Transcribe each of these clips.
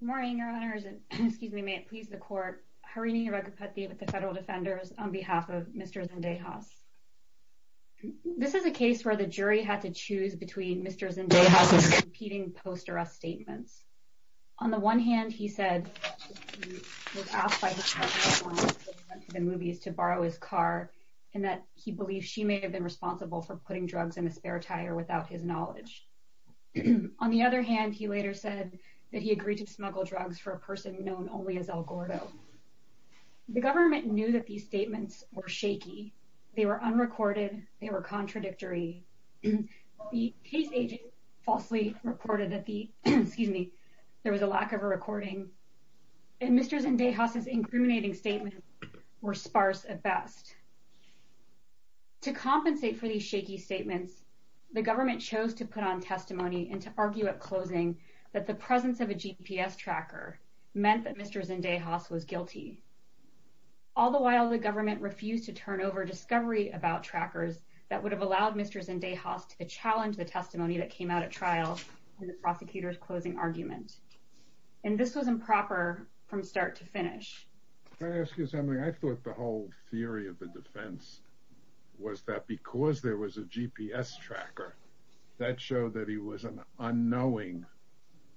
Good morning your honors and excuse me may it please the court. Harini Raghupati with the federal defenders on behalf of Mr. Zendejas. This is a case where the jury had to choose between Mr. Zendejas's competing post arrest statements. On the one hand he said the movies to borrow his car and that he believes she may have been responsible for putting drugs in a spare tire without his knowledge. On the other hand he later said that he agreed to smuggle drugs for a person known only as El Gordo. The government knew that these statements were shaky. They were unrecorded. They were contradictory. The case agent falsely reported that the excuse me there was a lack of a recording and Mr. Zendejas's incriminating statement were sparse at best. To compensate for these shaky statements the government chose to put on testimony and to argue at closing that the presence of a GPS tracker meant that Mr. Zendejas was guilty. All the while the government refused to turn over discovery about trackers that would have allowed Mr. Zendejas to challenge the testimony that came out at trial in the prosecutor's closing argument. And this was improper from start to finish. I thought the whole theory of the defense was that because there was a GPS tracker that showed that he was an unknowing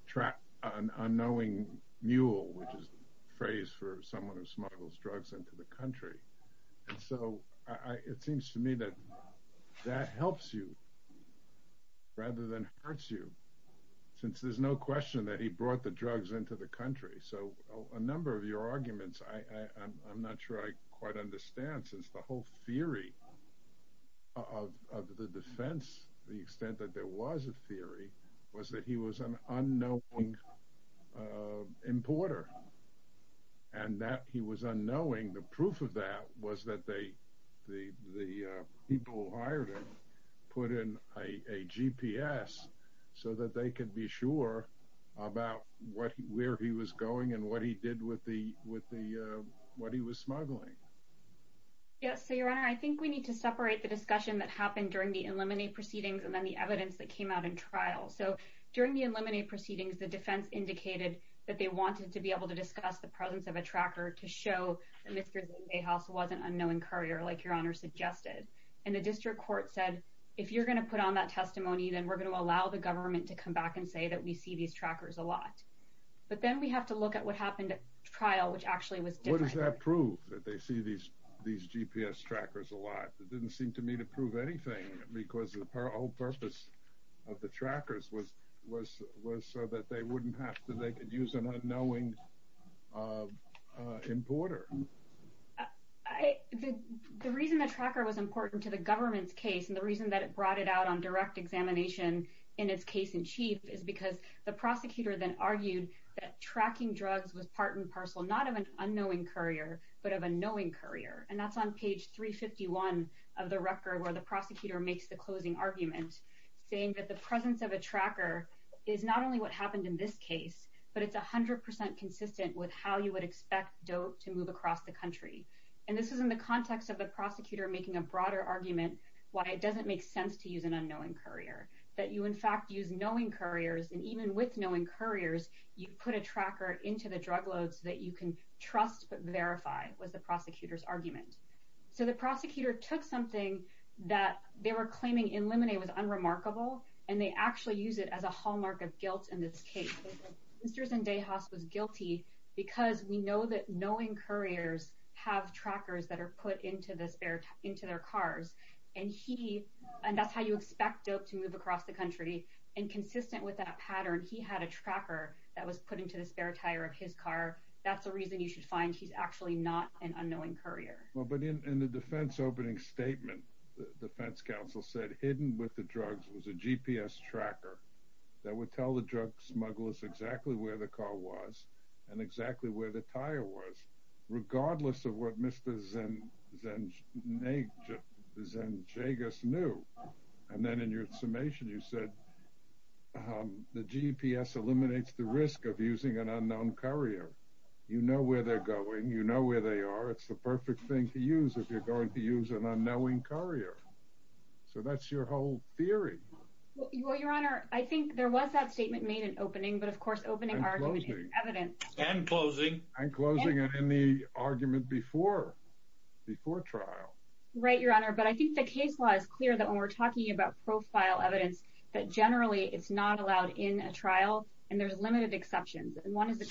track an unknowing mule which is the phrase for someone who smuggles drugs into the country. And so it seems to me that that helps you rather than hurts you since there's no question that he brought the drugs into the country. So a number of your arguments I'm not sure I quite understand since the whole theory of the defense the extent that there was a theory was that he was an unknowing importer. And that he was unknowing the proof of that was that they the people hired him put in a GPS so that they could be sure about what where he was with the with the what he was smuggling. Yes, your honor. I think we need to separate the discussion that happened during the eliminate proceedings and then the evidence that came out in trial. So during the eliminate proceedings, the defense indicated that they wanted to be able to discuss the presence of a tracker to show Mr. Zendejas wasn't an unknowing courier like your honor suggested. And the district court said, if you're gonna put on that testimony, then we're gonna allow the government to come back and say that we see these trackers a lot. But then we have to look at what trial, which actually was what does that prove that they see these these GPS trackers a lot? It didn't seem to me to prove anything because of her whole purpose of the trackers was was was so that they wouldn't have to. They could use an unknowing, uh, importer. I the reason the tracker was important to the government's case and the reason that it brought it out on direct examination in its case in chief is because the prosecutor then argued that tracking drugs was part and parcel not of an unknowing courier, but of a knowing courier. And that's on page 3 51 of the record where the prosecutor makes the closing argument, saying that the presence of a tracker is not only what happened in this case, but it's 100% consistent with how you would expect dope to move across the country. And this is in the context of the prosecutor making a broader argument why it doesn't make sense to use an unknowing courier that you, in fact, use knowing couriers. And even with knowing couriers, you put a tracker into the drug loads that you can trust, but verify was the prosecutor's argument. So the prosecutor took something that they were claiming in lemonade was unremarkable, and they actually use it as a hallmark of guilt in this case. Mr Zendejas was guilty because we know that knowing couriers have trackers that are put into this bear into their cars, and he and that's how you expect dope to move across the country. And consistent with that pattern, he had a tracker that was put into the spare tire of his car. That's the reason you should find he's actually not an unknowing courier. But in the defense opening statement, the defense counsel said, hidden with the drugs was a GPS tracker that would tell the drug smugglers exactly where the car was and exactly where the tire was, regardless of what Mr Zen. Then they just Zen Jagus knew. And then in your summation, you said the GPS eliminates the risk of using an unknown courier. You know where they're going. You know where they are. It's the perfect thing to use if you're going to use an unknowing courier. So that's your whole theory. Well, Your Honor, I think there was that statement made an opening, but, of course, opening our evidence and closing and closing it in the argument before before trial. Right, Your Honor. But I think the case was clear that when we're talking about profile evidence that generally it's not allowed in a trial, and there's limited exceptions. One is the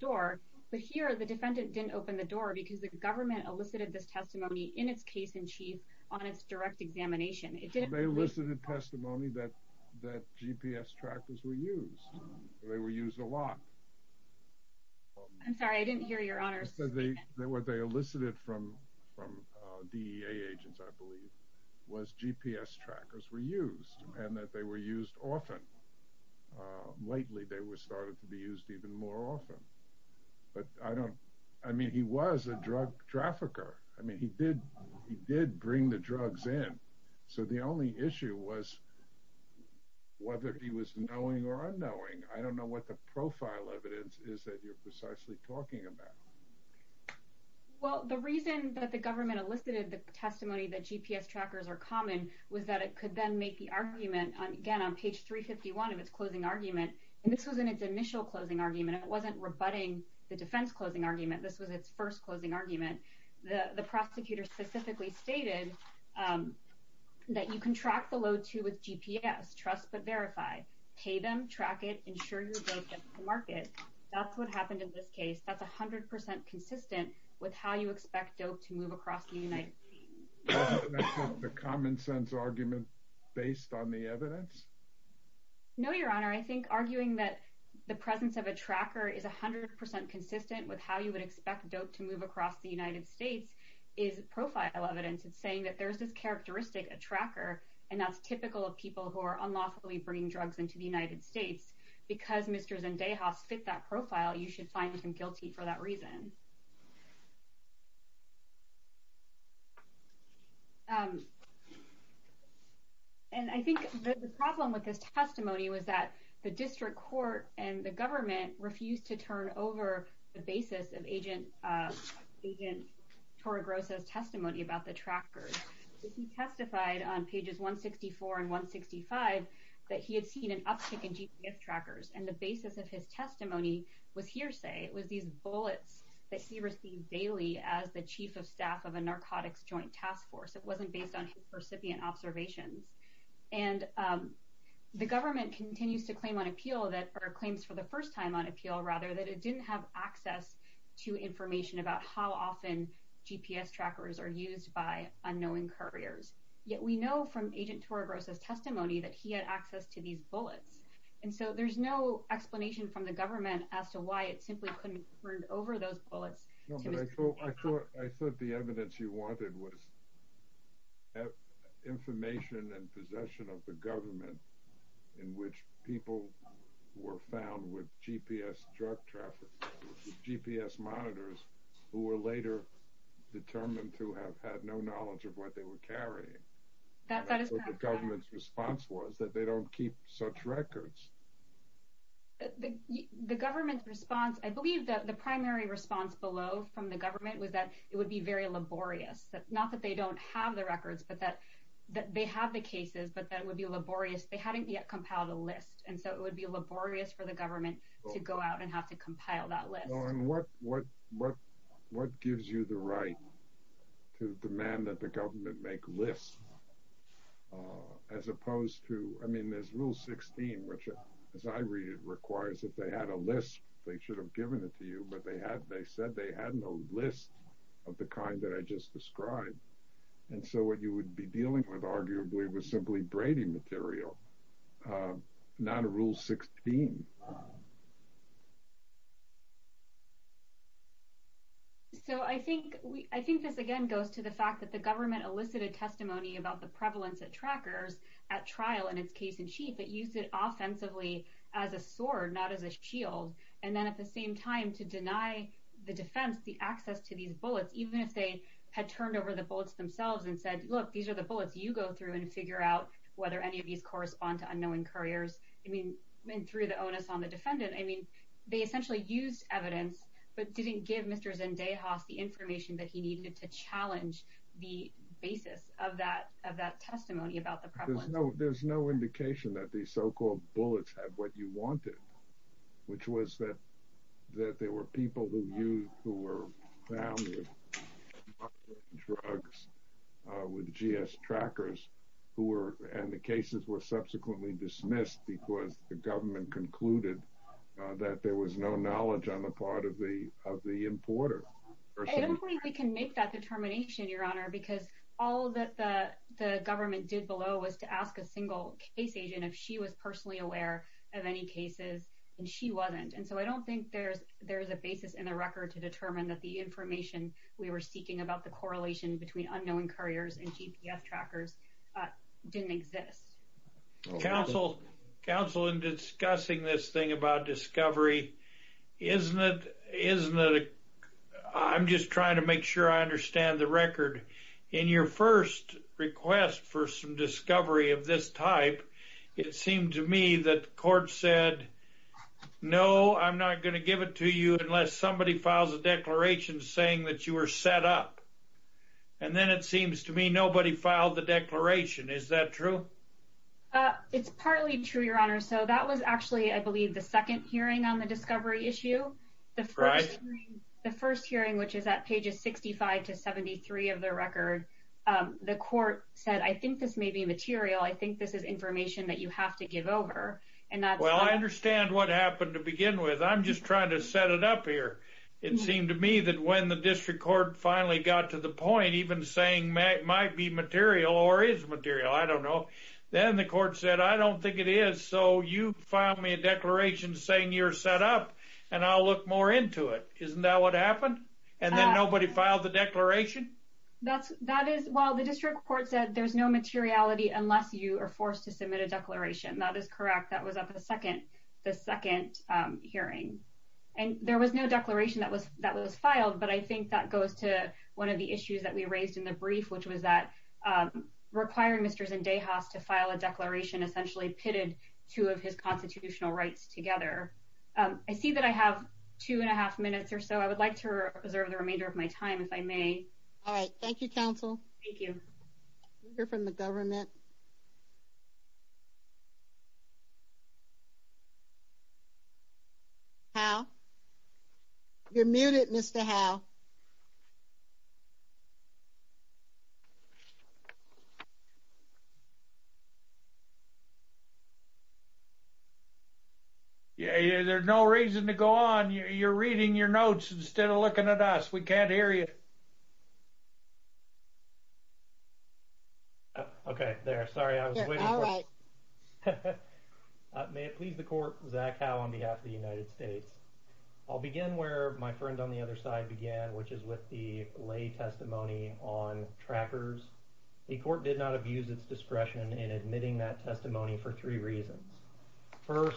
door. But here, the defendant didn't open the door because the government elicited this testimony in its case in chief on its direct examination. It didn't listen to testimony that that GPS trackers were used. They were used a lot. I'm sorry. I didn't hear your honors. They were. They elicited from from D. A. Agents, I believe, was GPS trackers were used and that they were used often. Lately, they were started to be used even more often. But I don't I mean, he was a drug trafficker. I mean, he did. He did bring the drugs in. So the only issue was whether he was knowing or unknowing. I don't know what the profile evidence is that you're precisely talking about. Well, the reason that the government elicited the testimony that GPS trackers are common was that it could then make the argument again on page 3 51 of its closing argument. And this was in its initial closing argument. It wasn't rebutting the defense closing argument. This was its first closing argument. The trust, but verify, pay them, track it, ensure your market. That's what happened in this case. That's 100% consistent with how you expect dope to move across the United the common sense argument based on the evidence. No, Your Honor, I think arguing that the presence of a tracker is 100% consistent with how you would expect dope to move across the United States is profile evidence. It's saying that there's this characteristic a tracker and that's typical of people who are unlawfully bringing drugs into the United States. Because Mr Zendaya has fit that profile, you should find him guilty for that reason. Um, and I think the problem with this testimony was that the district court and the government refused to turn over the basis of agent agent for grosses testimony about the trackers testified on pages 1 64 and 1 65 that he had seen an uptick in GPS trackers. And the basis of his testimony was hearsay. It was these bullets that he received daily as the chief of staff of a narcotics joint task force. It wasn't based on recipient observations. And, um, the government continues to claim on appeal that our claims for the first time on appeal rather that it didn't have access to information about how often GPS trackers are used by unknowing couriers. Yet we know from agent tour grosses testimony that he had access to these bullets, and so there's no explanation from the government as to why it simply couldn't burned over those bullets. I thought I thought the evidence you wanted was information and possession of the government in which people were found with GPS drug traffic GPS monitors who were later determined to have had no knowledge of what they were carrying. That government's response was that they don't keep such records. The government response. I believe that the primary response below from the government was that it would be very laborious, not that they don't have the records, but that they have the cases. But that would be laborious. They go out and have to compile that list. What? What? What? What gives you the right to demand that the government make lists as opposed to I mean, there's rule 16, which, as I read it requires that they had a list. They should have given it to you, but they have. They said they had no list of the kind that I just described. And so what you would be so I think I think this again goes to the fact that the government elicited testimony about the prevalence of trackers at trial in its case in chief that used it offensively as a sword, not as a shield, and then at the same time to deny the defense the access to these bullets, even if they had turned over the bullets themselves and said, Look, these are the bullets you go through and figure out whether any of these correspond to unknowing couriers. I mean, through the onus on the defendant, I mean, they essentially used evidence but didn't give Mr Zendaya has the information that he needed to challenge the basis of that of that testimony about the problem. No, there's no indication that the so called bullets have what you wanted, which was that that there were people who you who were found drugs with G s trackers who were and the cases were subsequently dismissed because the government concluded that there was no knowledge on the part of the of the importer. I don't think we can make that determination, Your Honor, because all that the government did below was to ask a single case agent if she was personally aware of any cases, and she wasn't. And so I don't think there's there's a basis in the record to determine that the information we were seeking about the correlation between unknowing couriers and GPS trackers didn't exist. Counsel Counsel in discussing this thing about discovery, isn't it? Isn't it? I'm just trying to make sure I understand the record in your first request for some discovery of this type. It seemed to me that court said, No, I'm not gonna give it to you unless somebody files a set up. And then it seems to me nobody filed the declaration. Is that true? It's partly true, Your Honor. So that was actually, I believe, the second hearing on the discovery issue. The first hearing, which is at pages 65 to 73 of the record, the court said, I think this may be material. I think this is information that you have to give over. And that's well, I understand what happened to begin with. I'm just trying to set it up here. It seems to me that the court finally got to the point, even saying it might be material or is material. I don't know. Then the court said, I don't think it is. So you file me a declaration saying you're set up and I'll look more into it. Isn't that what happened? And then nobody filed the declaration? That's that is while the district court said there's no materiality unless you are forced to submit a declaration. That is correct. That was up in the second, the second hearing. And there was no declaration that was that was filed. But I think that goes to one of the issues that we raised in the brief, which was that requiring Mr. Zendayas to file a declaration essentially pitted two of his constitutional rights together. I see that I have two and a half minutes or so. I would like to reserve the remainder of my time if I may. All right. Thank you, counsel. Thank you. You're from the government. How? You're muted, Mr. Howe. Yeah, there's no reason to go on. You're reading your notes instead of looking at us. We can't hear you. Okay, there. Sorry. I was waiting. May it please the court. Zach Howe on behalf of the United States. I'll begin where my friend on the other side began, which is with the lay testimony on trackers. The court did not abuse its discretion in admitting that testimony for three reasons. First,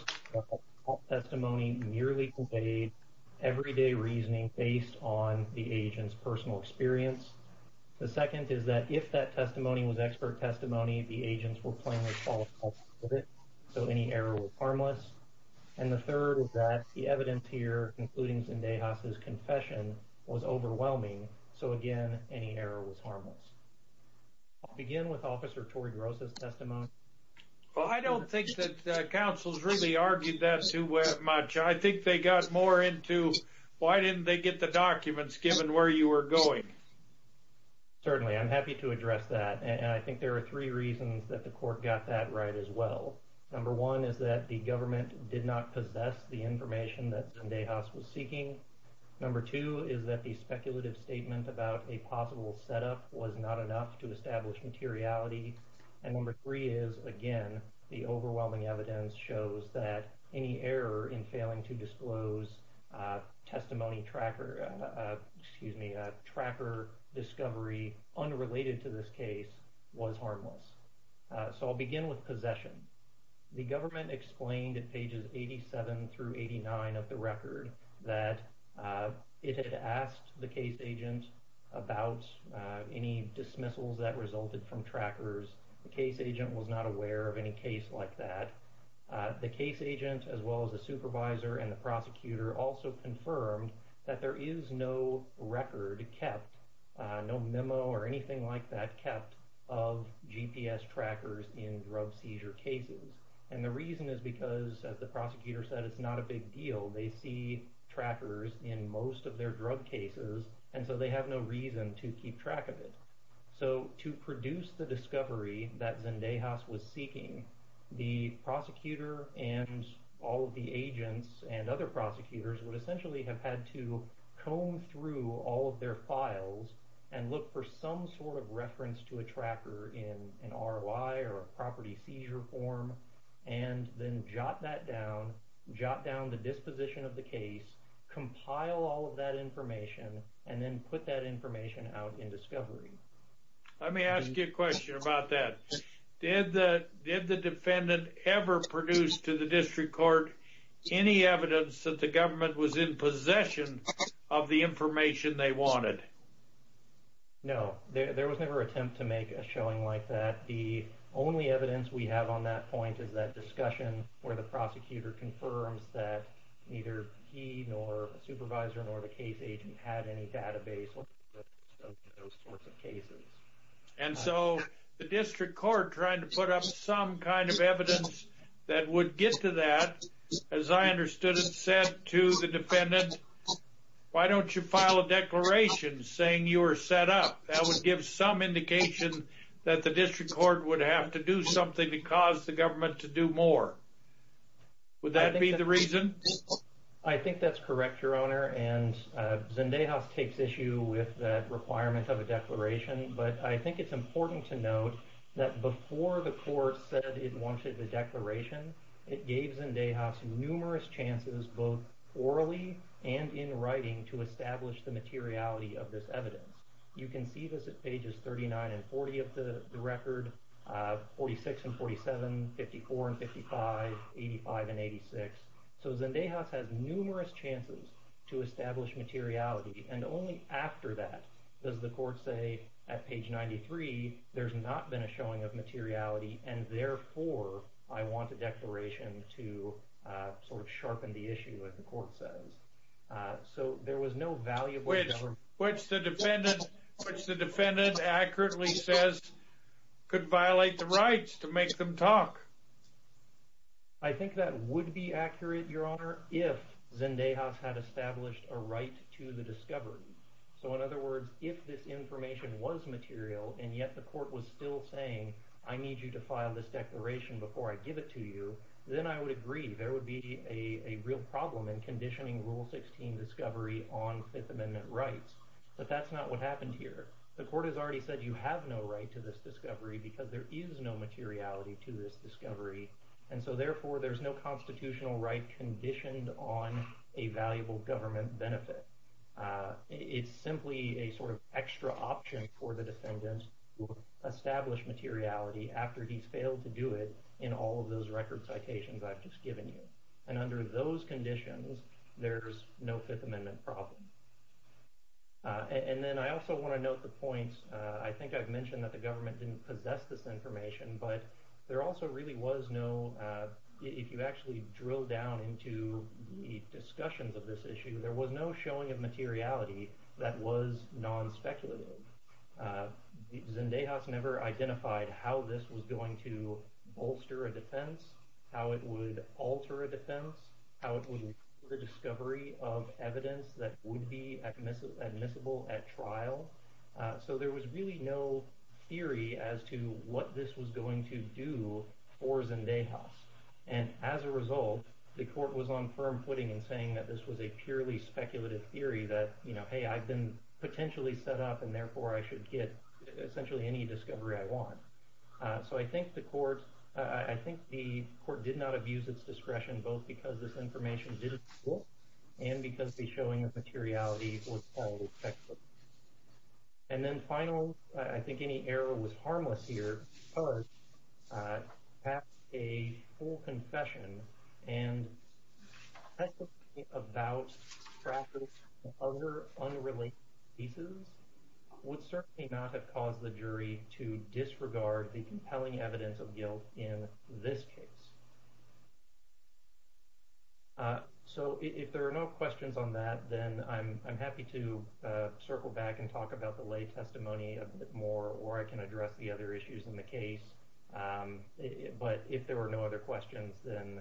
testimony merely conveyed everyday reasoning based on the agent's personal experience. The second is that if that testimony was expert testimony, the agents were playing with all of it. So any error was harmless. And the third is that the evidence here, including Zendayas' confession, was overwhelming. So again, any error was harmless. I'll begin with Officer Tori Gross's testimony. Well, I don't think that counsels really argued that too much. I think they got more into why didn't they get the documents given where you were going? Certainly, I'm happy to address that. And I think there are three reasons that the court got that right as well. Number one is that the government did not possess the information that Zendayas was seeking. Number two is that the government did not possess the information that Zendayas was seeking. confidentiality of the testimony. Number four is that the government did not possess the confidentiality of the testimony. And number three is, again, the overwhelming evidence shows that any error in failing to disclose testimony tracker, excuse me, tracker discovery unrelated to this case was harmless. So I'll begin with possession. The government explained at pages 87 through 89 of the record that it had asked the case agent about any dismissals that resulted from trackers. The case agent was not aware of any case like that. The case agent as well as the supervisor and the prosecutor also confirmed that there is no record kept, no memo or anything like that kept of GPS trackers in drug seizure cases. And the reason is because, as the prosecutor said, it's not a big deal. They see trackers in most of their drug cases and so they have no reason to produce the discovery that Zendayas was seeking. The prosecutor and all of the agents and other prosecutors would essentially have had to comb through all of their files and look for some sort of reference to a tracker in an ROI or a property seizure form and then jot that down, jot down the disposition of the case, compile all of that information, and then put that information out in the discovery. Let me ask you a question about that. Did the defendant ever produce to the district court any evidence that the government was in possession of the information they wanted? No, there was never an attempt to make a showing like that. The only evidence we have on that point is that discussion where the prosecutor confirms that neither he nor a supervisor nor the case agent had any database of those sorts of cases. And so the district court trying to put up some kind of evidence that would get to that, as I understood it, said to the defendant, why don't you file a declaration saying you were set up? That would give some indication that the district court would have to do something to cause the government to do more. Would that be the reason? I think that's correct, your owner, and Zendejas takes issue with that requirement of a declaration, but I think it's important to note that before the court said it wanted the declaration, it gave Zendejas numerous chances both orally and in writing to establish the materiality of this evidence. You can see this at pages 39 and 40 of the record, 46 and 47, 54 and 55, 85 and 86. So Zendejas has numerous chances to establish materiality and only after that does the court say at page 93 there's not been a showing of materiality and therefore I want the declaration to sort of sharpen the issue, as the court says. So there was no valuable evidence. Which the defendant accurately says could violate the rights to make them talk. I think that would be accurate, your honor, if Zendejas had established a right to the discovery. So in other words, if this information was material and yet the court was still saying I need you to file this declaration before I give it to you, then I would agree there would be a real problem in conditioning Rule 16 discovery on Fifth Amendment rights. But that's not what happened here. The court has already said you have no right to this discovery because there is no materiality to this discovery and so therefore there's no constitutional right conditioned on a valuable government benefit. It's simply a sort of extra option for the defendants to establish materiality after he's failed to do it in all of those record citations I've just given you. And under those conditions there's no Fifth Amendment problem. And then I also want to note the points, I think I've mentioned that the government didn't possess this information, but there also really was no, if you actually drill down into the discussions of this issue, there was no showing of materiality that was non-speculative. Zendejas never identified how this was going to bolster a defense, how it would alter a defense, how it would the discovery of evidence that would be admissible at trial. So there was really no theory as to what this was going to do for Zendejas. And as a result, the court was on firm footing in saying that this was a purely speculative theory that, you know, hey I've been potentially set up and therefore I should get essentially any discovery I want. So I think the court, I think the court did not abuse its discretion both because this information didn't work and because the showing of materiality was highly speculative. And then final, I think any error was harmless here because to pass a full confession and specifically about fractures and other unrelated pieces would certainly not have caused the jury to So if there are no questions on that, then I'm happy to circle back and talk about the lay testimony a bit more or I can address the other issues in the case. But if there were no other questions, then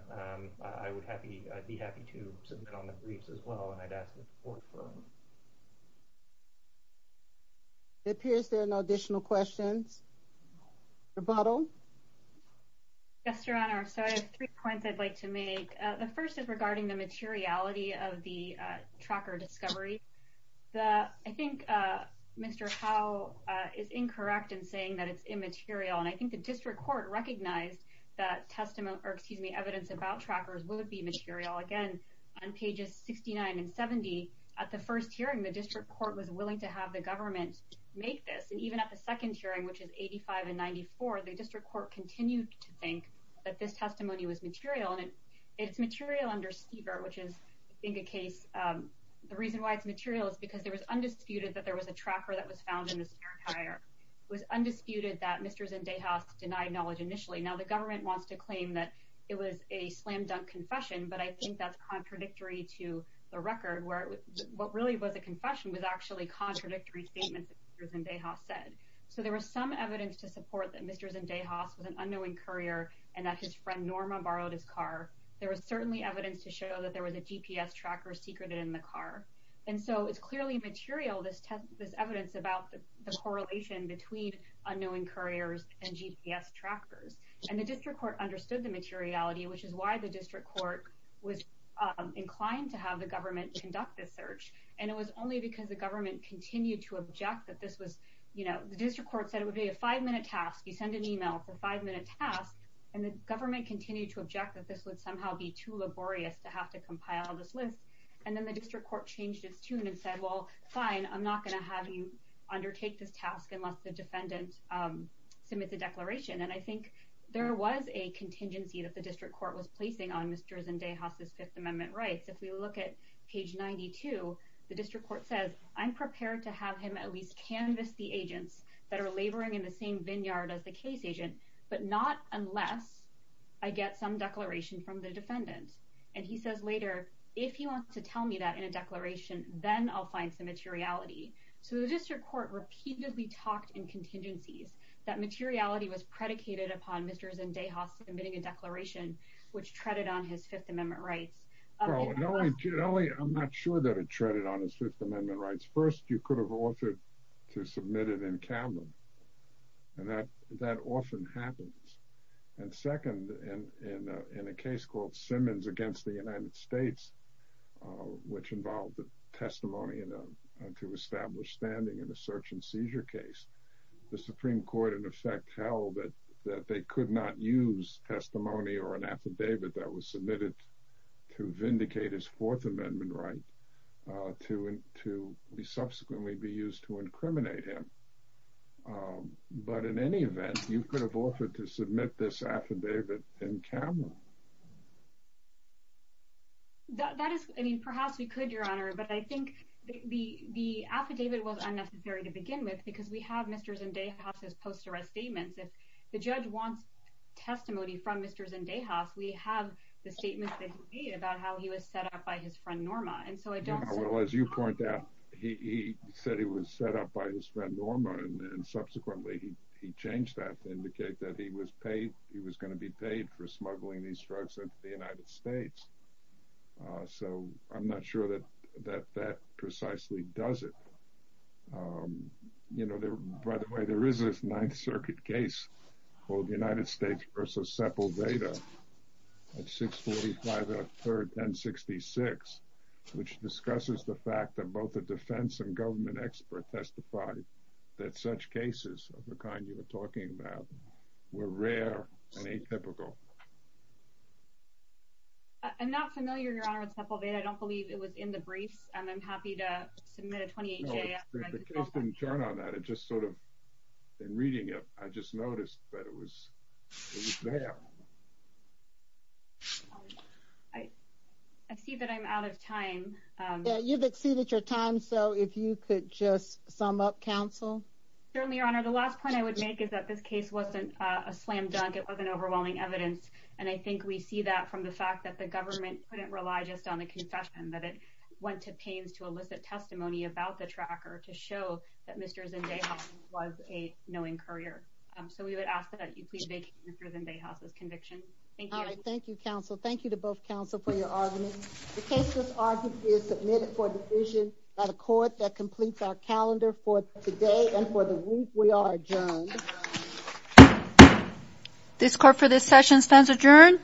I would happy, I'd be happy to sit down on the briefs as well and I'd ask the court for them. It appears there are no additional questions. Rebuttal? Yes, Your Honor. So I have three points I'd like to make. The first is regarding the materiality of the tracker discovery. The, I think Mr. Howe is incorrect in saying that it's immaterial and I think the district court recognized that testimony, or excuse me, evidence about trackers would be material. Again, on pages 69 and 70 at the first hearing the district court was willing to have the government make this and even at the second hearing, which is 85 and 94, the district court continued to think that this testimony was material and it's material under speaker, which is I think a case, the reason why it's material is because there was undisputed that there was a tracker that was found in the spare tire. It was undisputed that Mr. Zendejas denied knowledge initially. Now the government wants to claim that it was a slam dunk confession, but I think that's contradictory to the record where it was, what really was a confession was actually contradictory statement that Mr. Zendejas said. So there was some evidence to support that Mr. Zendejas was an unknowing courier and that his friend Norma borrowed his car. There was certainly evidence to show that there was a GPS tracker secreted in the car. And so it's clearly material, this test, this evidence about the correlation between unknowing couriers and GPS trackers. And the district court understood the materiality, which is why the district court was inclined to have the government conduct this search. And it was only because the government continued to object that this was, you know, the district court said it would be a five minute task. You send an email for five minute tasks and the government continued to object that this would somehow be too laborious to have to compile this list. And then the district court changed its tune and said, well, fine, I'm not going to have you undertake this task unless the defendant submits a declaration. And I think there was a contingency that the district court was placing on Mr. Zendejas' Fifth Amendment rights. If we look at page 92, the district court says, I'm prepared to have him at least canvas the agents that are laboring in the same vineyard as the case agent, but not unless I get some declaration from the defendant. And he says later, if he wants to tell me that in a declaration, then I'll find some materiality. So the district court repeatedly talked in contingencies that materiality was predicated upon Mr. Zendejas submitting a declaration, which treaded on his Fifth Amendment rights. I'm not sure that it treaded on his Fifth Amendment rights. First, you could have altered to submit it in canvas. And that often happens. And second, in a case called Simmons against the United States, which involved a testimony to establish standing in a search and seizure case, the Supreme Court in effect held that they could not use testimony or an affidavit that was submitted to be used to incriminate him. But in any event, you could have offered to submit this affidavit in camera. That is, I mean, perhaps we could, Your Honor. But I think the affidavit was unnecessary to begin with, because we have Mr. Zendejas' post arrest statements. If the judge wants testimony from Mr. Zendejas, we have the statement that he made about how he was set up by his friend Norma. And so I was set up by his friend Norma. And subsequently, he changed that to indicate that he was paid, he was going to be paid for smuggling these drugs into the United States. So I'm not sure that that that precisely does it. You know, there, by the way, there is this Ninth Circuit case called United States versus Seppel Veda at 645, 1066, which discusses the fact that the defense and government expert testified that such cases of the kind you're talking about were rare and atypical. I'm not familiar, Your Honor, with Seppel Veda. I don't believe it was in the briefs, and I'm happy to submit a 28-J. No, the case didn't turn on that. It just sort of, in reading it, I just noticed that it was there. I see that I'm out of time. Yeah, you've exceeded your time, so if you could just sum up, Counsel. Certainly, Your Honor. The last point I would make is that this case wasn't a slam dunk. It wasn't overwhelming evidence. And I think we see that from the fact that the government couldn't rely just on the confession, that it went to pains to elicit testimony about the tracker to show that Mr. Zendejas was a knowing courier. So we would ask that you please vacate Mr. Zendejas' conviction. Thank you. All right. Thank you, Counsel. Thank you to both Counsel for your argument. The case thus argued is submitted for division by the Court that completes our calendar for today and for the week. We are adjourned. This Court for this session stands adjourned.